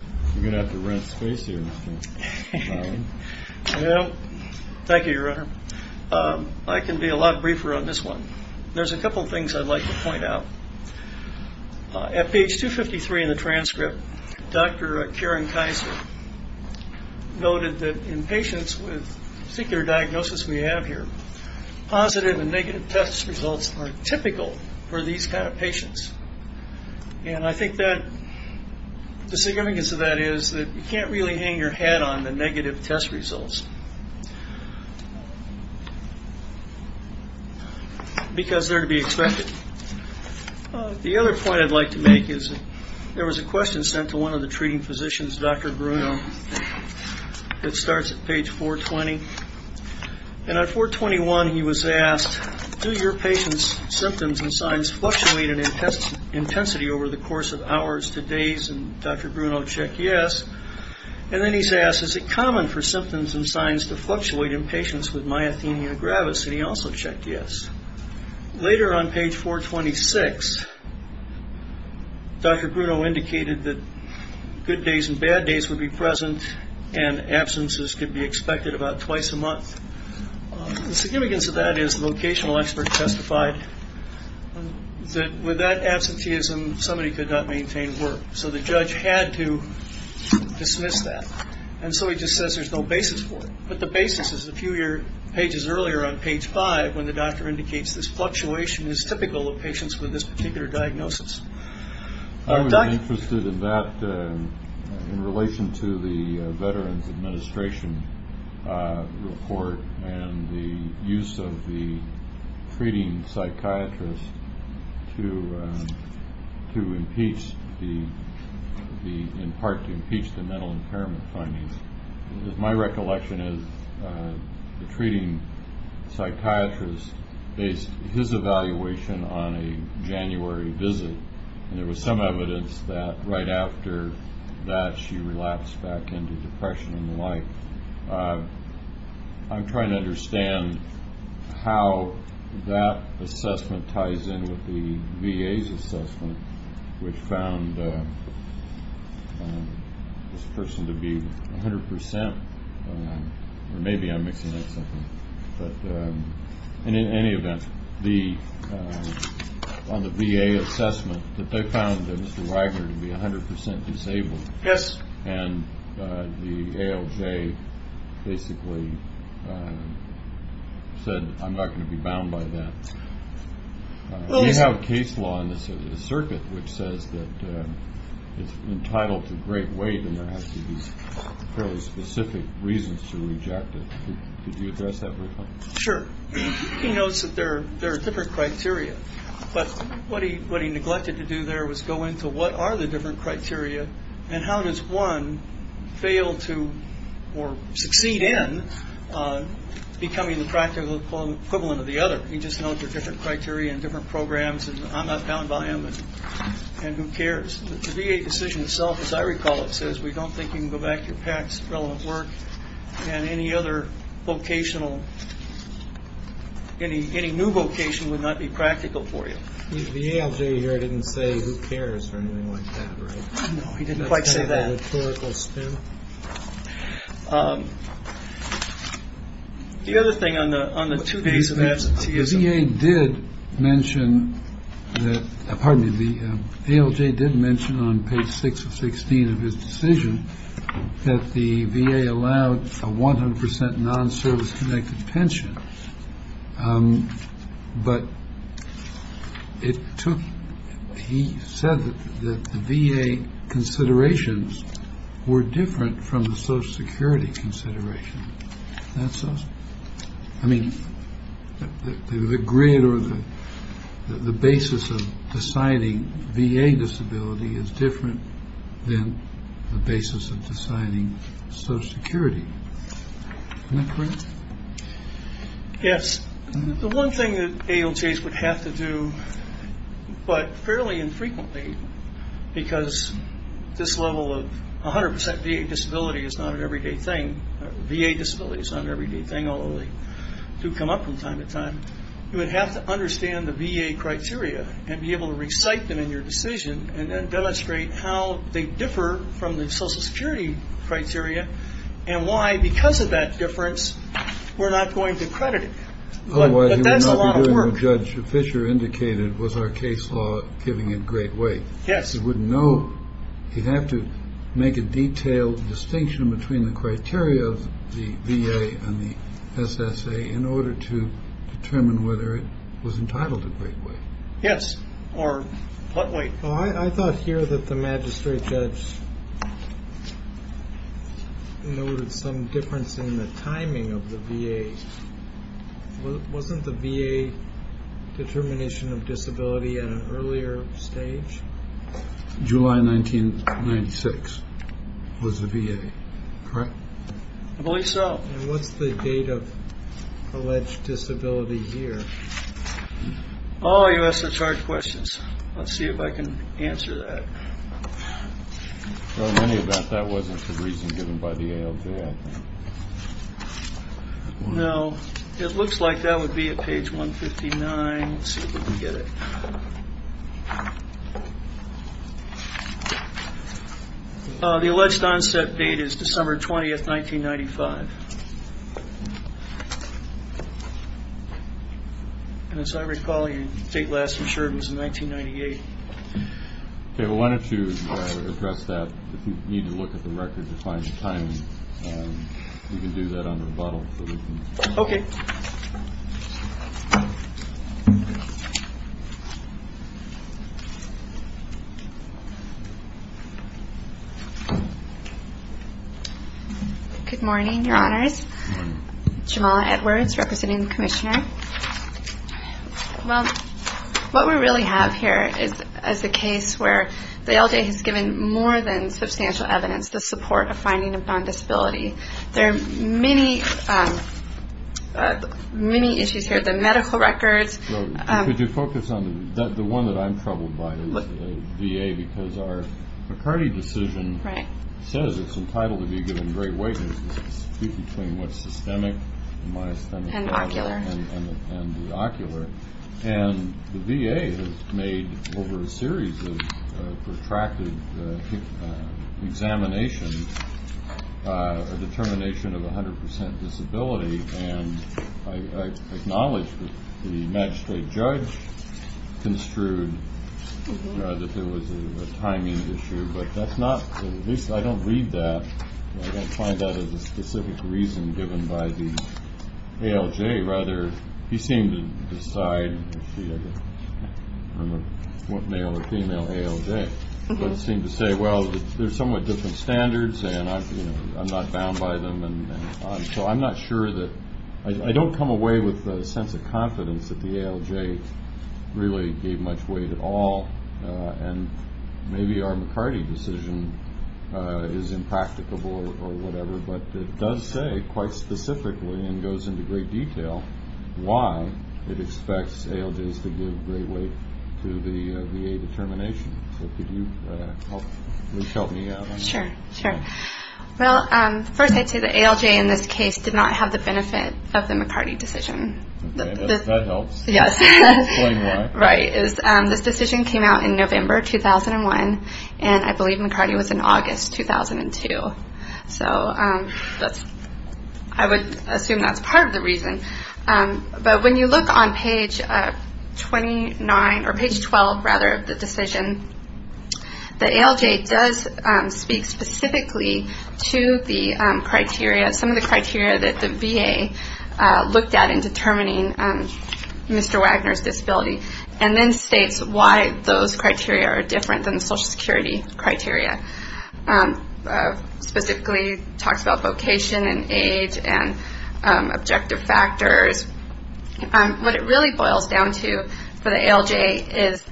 Thank you, your honor. I can be a lot briefer on this one. There's a couple of things I'd like to point out. At page 253 in the transcript, Dr. Karen Kaiser noted that in patients with secular diagnosis we have here, positive and negative test results are typical for these kind of patients. And I think that the significance of that is that you can't really hang your head on the negative test results because they're to be expected. The other point I'd like to make is there was a question sent to one of the treating physicians, Dr. Bruno, that starts at page 420. And at 421 he was asked, do your patient's symptoms and signs fluctuate in intensity over the course of hours to days? And Dr. Bruno checked yes. And then he's asked, is it common for symptoms and signs to fluctuate in patients with myothenia gravis? And he also checked yes. Later on page 426, Dr. Bruno indicated that good days and bad days would be present and absences could be expected about twice a month. The significance of that is the vocational expert testified that with that absenteeism somebody could not maintain work. So the judge had to dismiss that. And so he just says there's no basis for it. But the basis is a few pages earlier on page 5 when the doctor indicates this fluctuation is typical of patients with this particular diagnosis. I was interested in that in relation to the Veterans Administration report and the use of the treating psychiatrist to impeach the, in part to impeach the mental impairment findings. My recollection is the treating psychiatrist based his evaluation on a January visit. And there was some evidence that right after that she relapsed back into depression and the like. I'm trying to understand how that assessment ties in with the VA's assessment which found this person to be 100% or maybe I'm mixing up something. But in any event, on the VA assessment that they found Mr. Wagner to be 100% disabled. Yes. And the ALJ basically said I'm not going to be bound by that. We have case law in the circuit which says that it's entitled to great weight and there has to be fairly specific reasons to reject it. Did you address that briefly? Sure. He notes that there are different criteria. But what he neglected to do there was go into what are the different criteria and how does one fail to or succeed in becoming the practical equivalent of the other. He just notes there are different criteria and different programs and I'm not bound by them and who cares. The VA decision itself as I recall it says we don't think you can go back to your past relevant work and any other vocational, any new vocation would not be practical for you. The ALJ here didn't say who cares or anything like that, right? No, he didn't quite say that. That's kind of a rhetorical spin. The other thing on the two days of absenteeism. The VA did mention that, pardon me, the ALJ did mention on page 6 of 16 of his But it took, he said that the VA considerations were different from the social security considerations. I mean, the grid or the basis of deciding VA disability is different than the basis of deciding social security. Am I correct? Yes. The one thing that ALJs would have to do but fairly infrequently because this level of 100% VA disability is not an everyday thing. VA disability is not an everyday thing although they do come up from time to time. You would have to understand the VA criteria and be able to recite them in your And that's why, because of that difference, we're not going to credit it. Otherwise you would not be doing what Judge Fisher indicated was our case law giving it great weight. Yes. You wouldn't know. You'd have to make a detailed distinction between the criteria of the VA and the SSA in order to determine whether it was entitled to great weight. Yes. Or what weight? I thought here that the magistrate judge noted some difference in the timing of the VA. Wasn't the VA determination of disability at an earlier stage? July 1996 was the VA, correct? I believe so. And what's the date of alleged disability here? Oh, you ask such hard questions. Let's see if I can answer that. I've heard many about that wasn't the reason given by the ALJ. No. It looks like that would be at page 159. Let's see if we can get it. The alleged onset date is December 20th, 1995. And as I recall, your date last insured was in 1998. Okay. Well, why don't you address that? If you need to look at the record to find the timing, you can do that on the rebuttal. Okay. Good morning, Your Honors. Jamala Edwards, representing the Commissioner. Well, what we really have here is a case where the ALJ has given more than substantial evidence to support a finding of non-disability. There are many issues here, the medical records. Could you focus on the one that I'm troubled by, the VA? Because our McCarty decision says it's entitled to be given great weight. It's to speak between what's systemic and what's not. And ocular. And the VA has made over a series of protracted examinations a determination of 100% disability. And I acknowledge that the magistrate judge construed that there was a timing issue. But that's not, at least I don't read that. I don't find that as a specific reason given by the ALJ. Rather, he seemed to decide, I'm a male or female ALJ, but seemed to say, well, there's somewhat different standards and I'm not bound by them. And so I'm not sure that I don't come away with a sense of confidence that the ALJ really gave much weight at all. And maybe our McCarty decision is impracticable or whatever, but it does say quite specifically and goes into great detail why it expects ALJs to give great weight to the VA determination. So could you help me out on that? Sure, sure. Well, first I'd say the ALJ in this case did not have the benefit of the McCarty decision. Okay, that helps. Yes. This decision came out in November 2001, and I believe McCarty was in August 2002. So I would assume that's part of the reason. But when you look on page 29, or page 12, rather, of the decision, the ALJ does speak specifically to the criteria, some of the criteria that the VA looked at in determining Mr. Wagner's disability, and then states why those criteria are different than the Social Security criteria. Specifically talks about vocation and age and objective factors. What it really boils down to for the ALJ is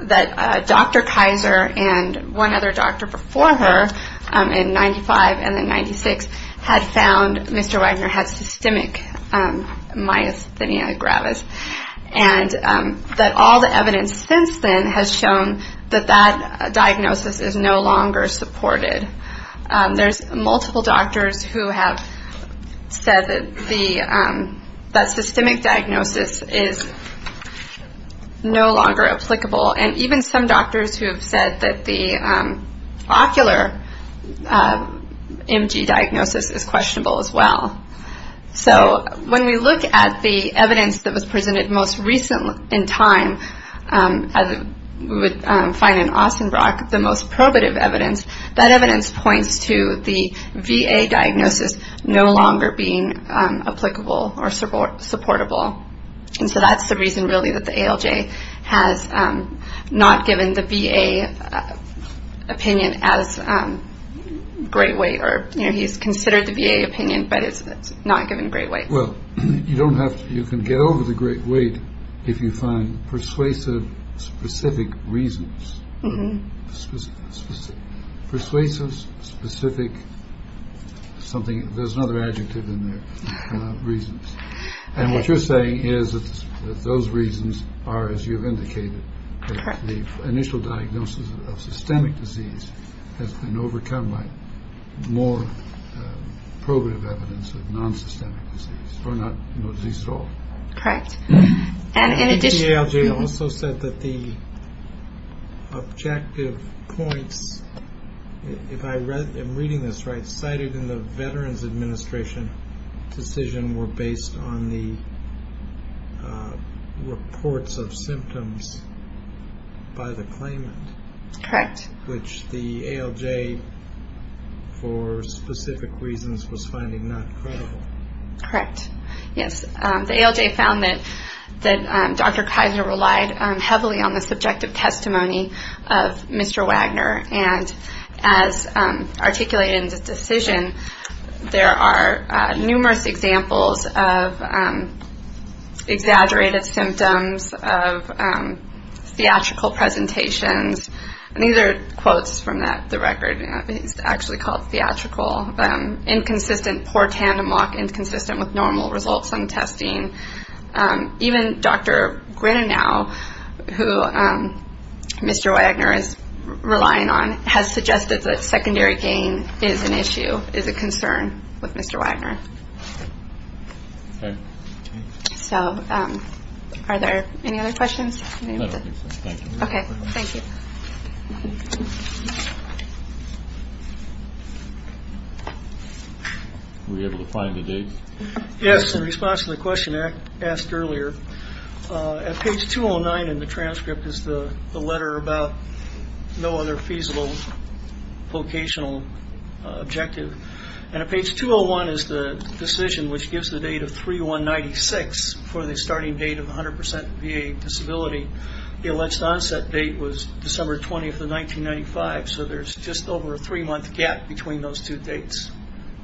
that Dr. Kaiser and one other doctor before her in 1995 and then 1996 had found Mr. Wagner had systemic myasthenia gravis, and that all the evidence since then has shown that that diagnosis is no longer supported. There's multiple doctors who have said that systemic diagnosis is no longer applicable, and even some doctors who have said that the ocular MG diagnosis is questionable as well. So when we look at the evidence that was presented most recently in time, as we would find in Ostenbrock, the most probative evidence, that evidence points to the VA diagnosis no longer being applicable or supportable. And so that's the reason, really, that the ALJ has not given the VA opinion as great weight, or he's considered the VA opinion, but it's not given great weight. Well, you don't have to, you can get over the great weight if you find persuasive, specific reasons. Persuasive, specific, something, there's another adjective in there, reasons. And what you're saying is that those reasons are, as you've indicated, that the initial diagnosis of systemic disease has been overcome by more probative evidence of nonsystemic disease, or no disease at all. Correct. The ALJ also said that the objective points, if I'm reading this right, cited in the Veterans Administration decision were based on the reports of symptoms by the claimant. Correct. Which the ALJ, for specific reasons, was finding not credible. Correct. Yes, the ALJ found that Dr. Kaiser relied heavily on the subjective testimony of Mr. Wagner, and as articulated in the decision, there are numerous examples of exaggerated symptoms, of theatrical presentations, and these are quotes from the record, it's actually called theatrical, inconsistent, poor tandem walk, inconsistent with normal results on testing. Even Dr. Grinnell, who Mr. Wagner is relying on, has suggested that secondary gain is an issue, is a concern with Mr. Wagner. Okay. So are there any other questions? No, I think so. Thank you. Okay, thank you. Were you able to find the dates? Yes, in response to the question asked earlier. At page 209 in the transcript is the letter about no other feasible vocational objective, and at page 201 is the decision which gives the date of 3-1-96 for the starting date of 100% VA disability. The alleged onset date was December 20th of 1995, so there's just over a three-month gap between those two dates.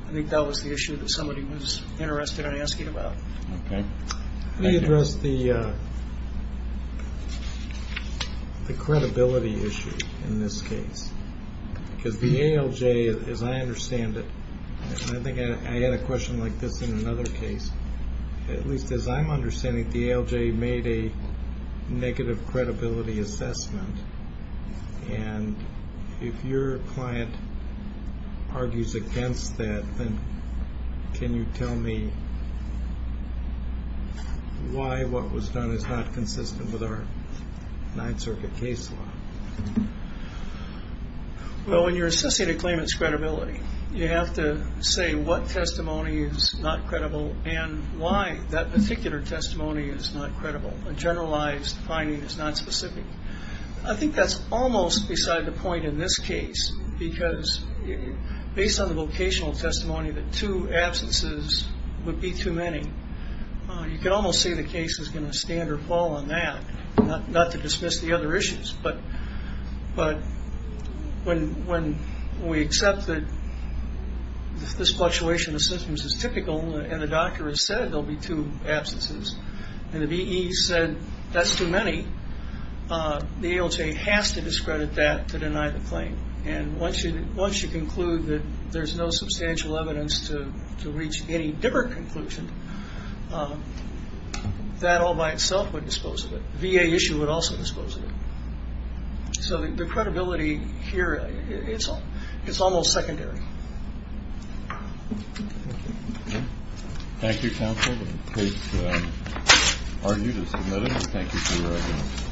I think that was the issue that somebody was interested in asking about. Okay. Let me address the credibility issue in this case, because the ALJ, as I understand it, and I think I had a question like this in another case, at least as I'm understanding it, the ALJ made a negative credibility assessment, and if your client argues against that, then can you tell me why what was done is not consistent with our Ninth Circuit case law? Well, when you're assessing a claimant's credibility, you have to say what testimony is not credible and why that particular testimony is not credible. A generalized finding is not specific. I think that's almost beside the point in this case, because based on the vocational testimony that two absences would be too many, you can almost say the case is going to stand or fall on that, not to dismiss the other issues, but when we accept that this fluctuation of symptoms is typical and the doctor has said there will be two absences, and the VE said that's too many, the ALJ has to discredit that to deny the claim, and once you conclude that there's no substantial evidence to reach any different conclusion, that all by itself would dispose of it. The VA issue would also dispose of it. So the credibility here, it's almost secondary. Thank you. Thank you, Counsel. The case argued is submitted. Thank you for your attendance. Thank you.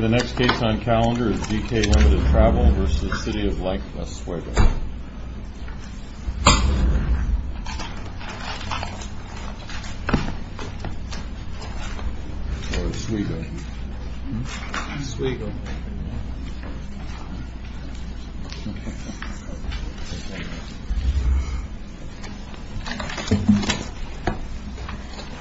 The next case on calendar is DK Limited Travel v. City of Lake Las Vegas. Thank you.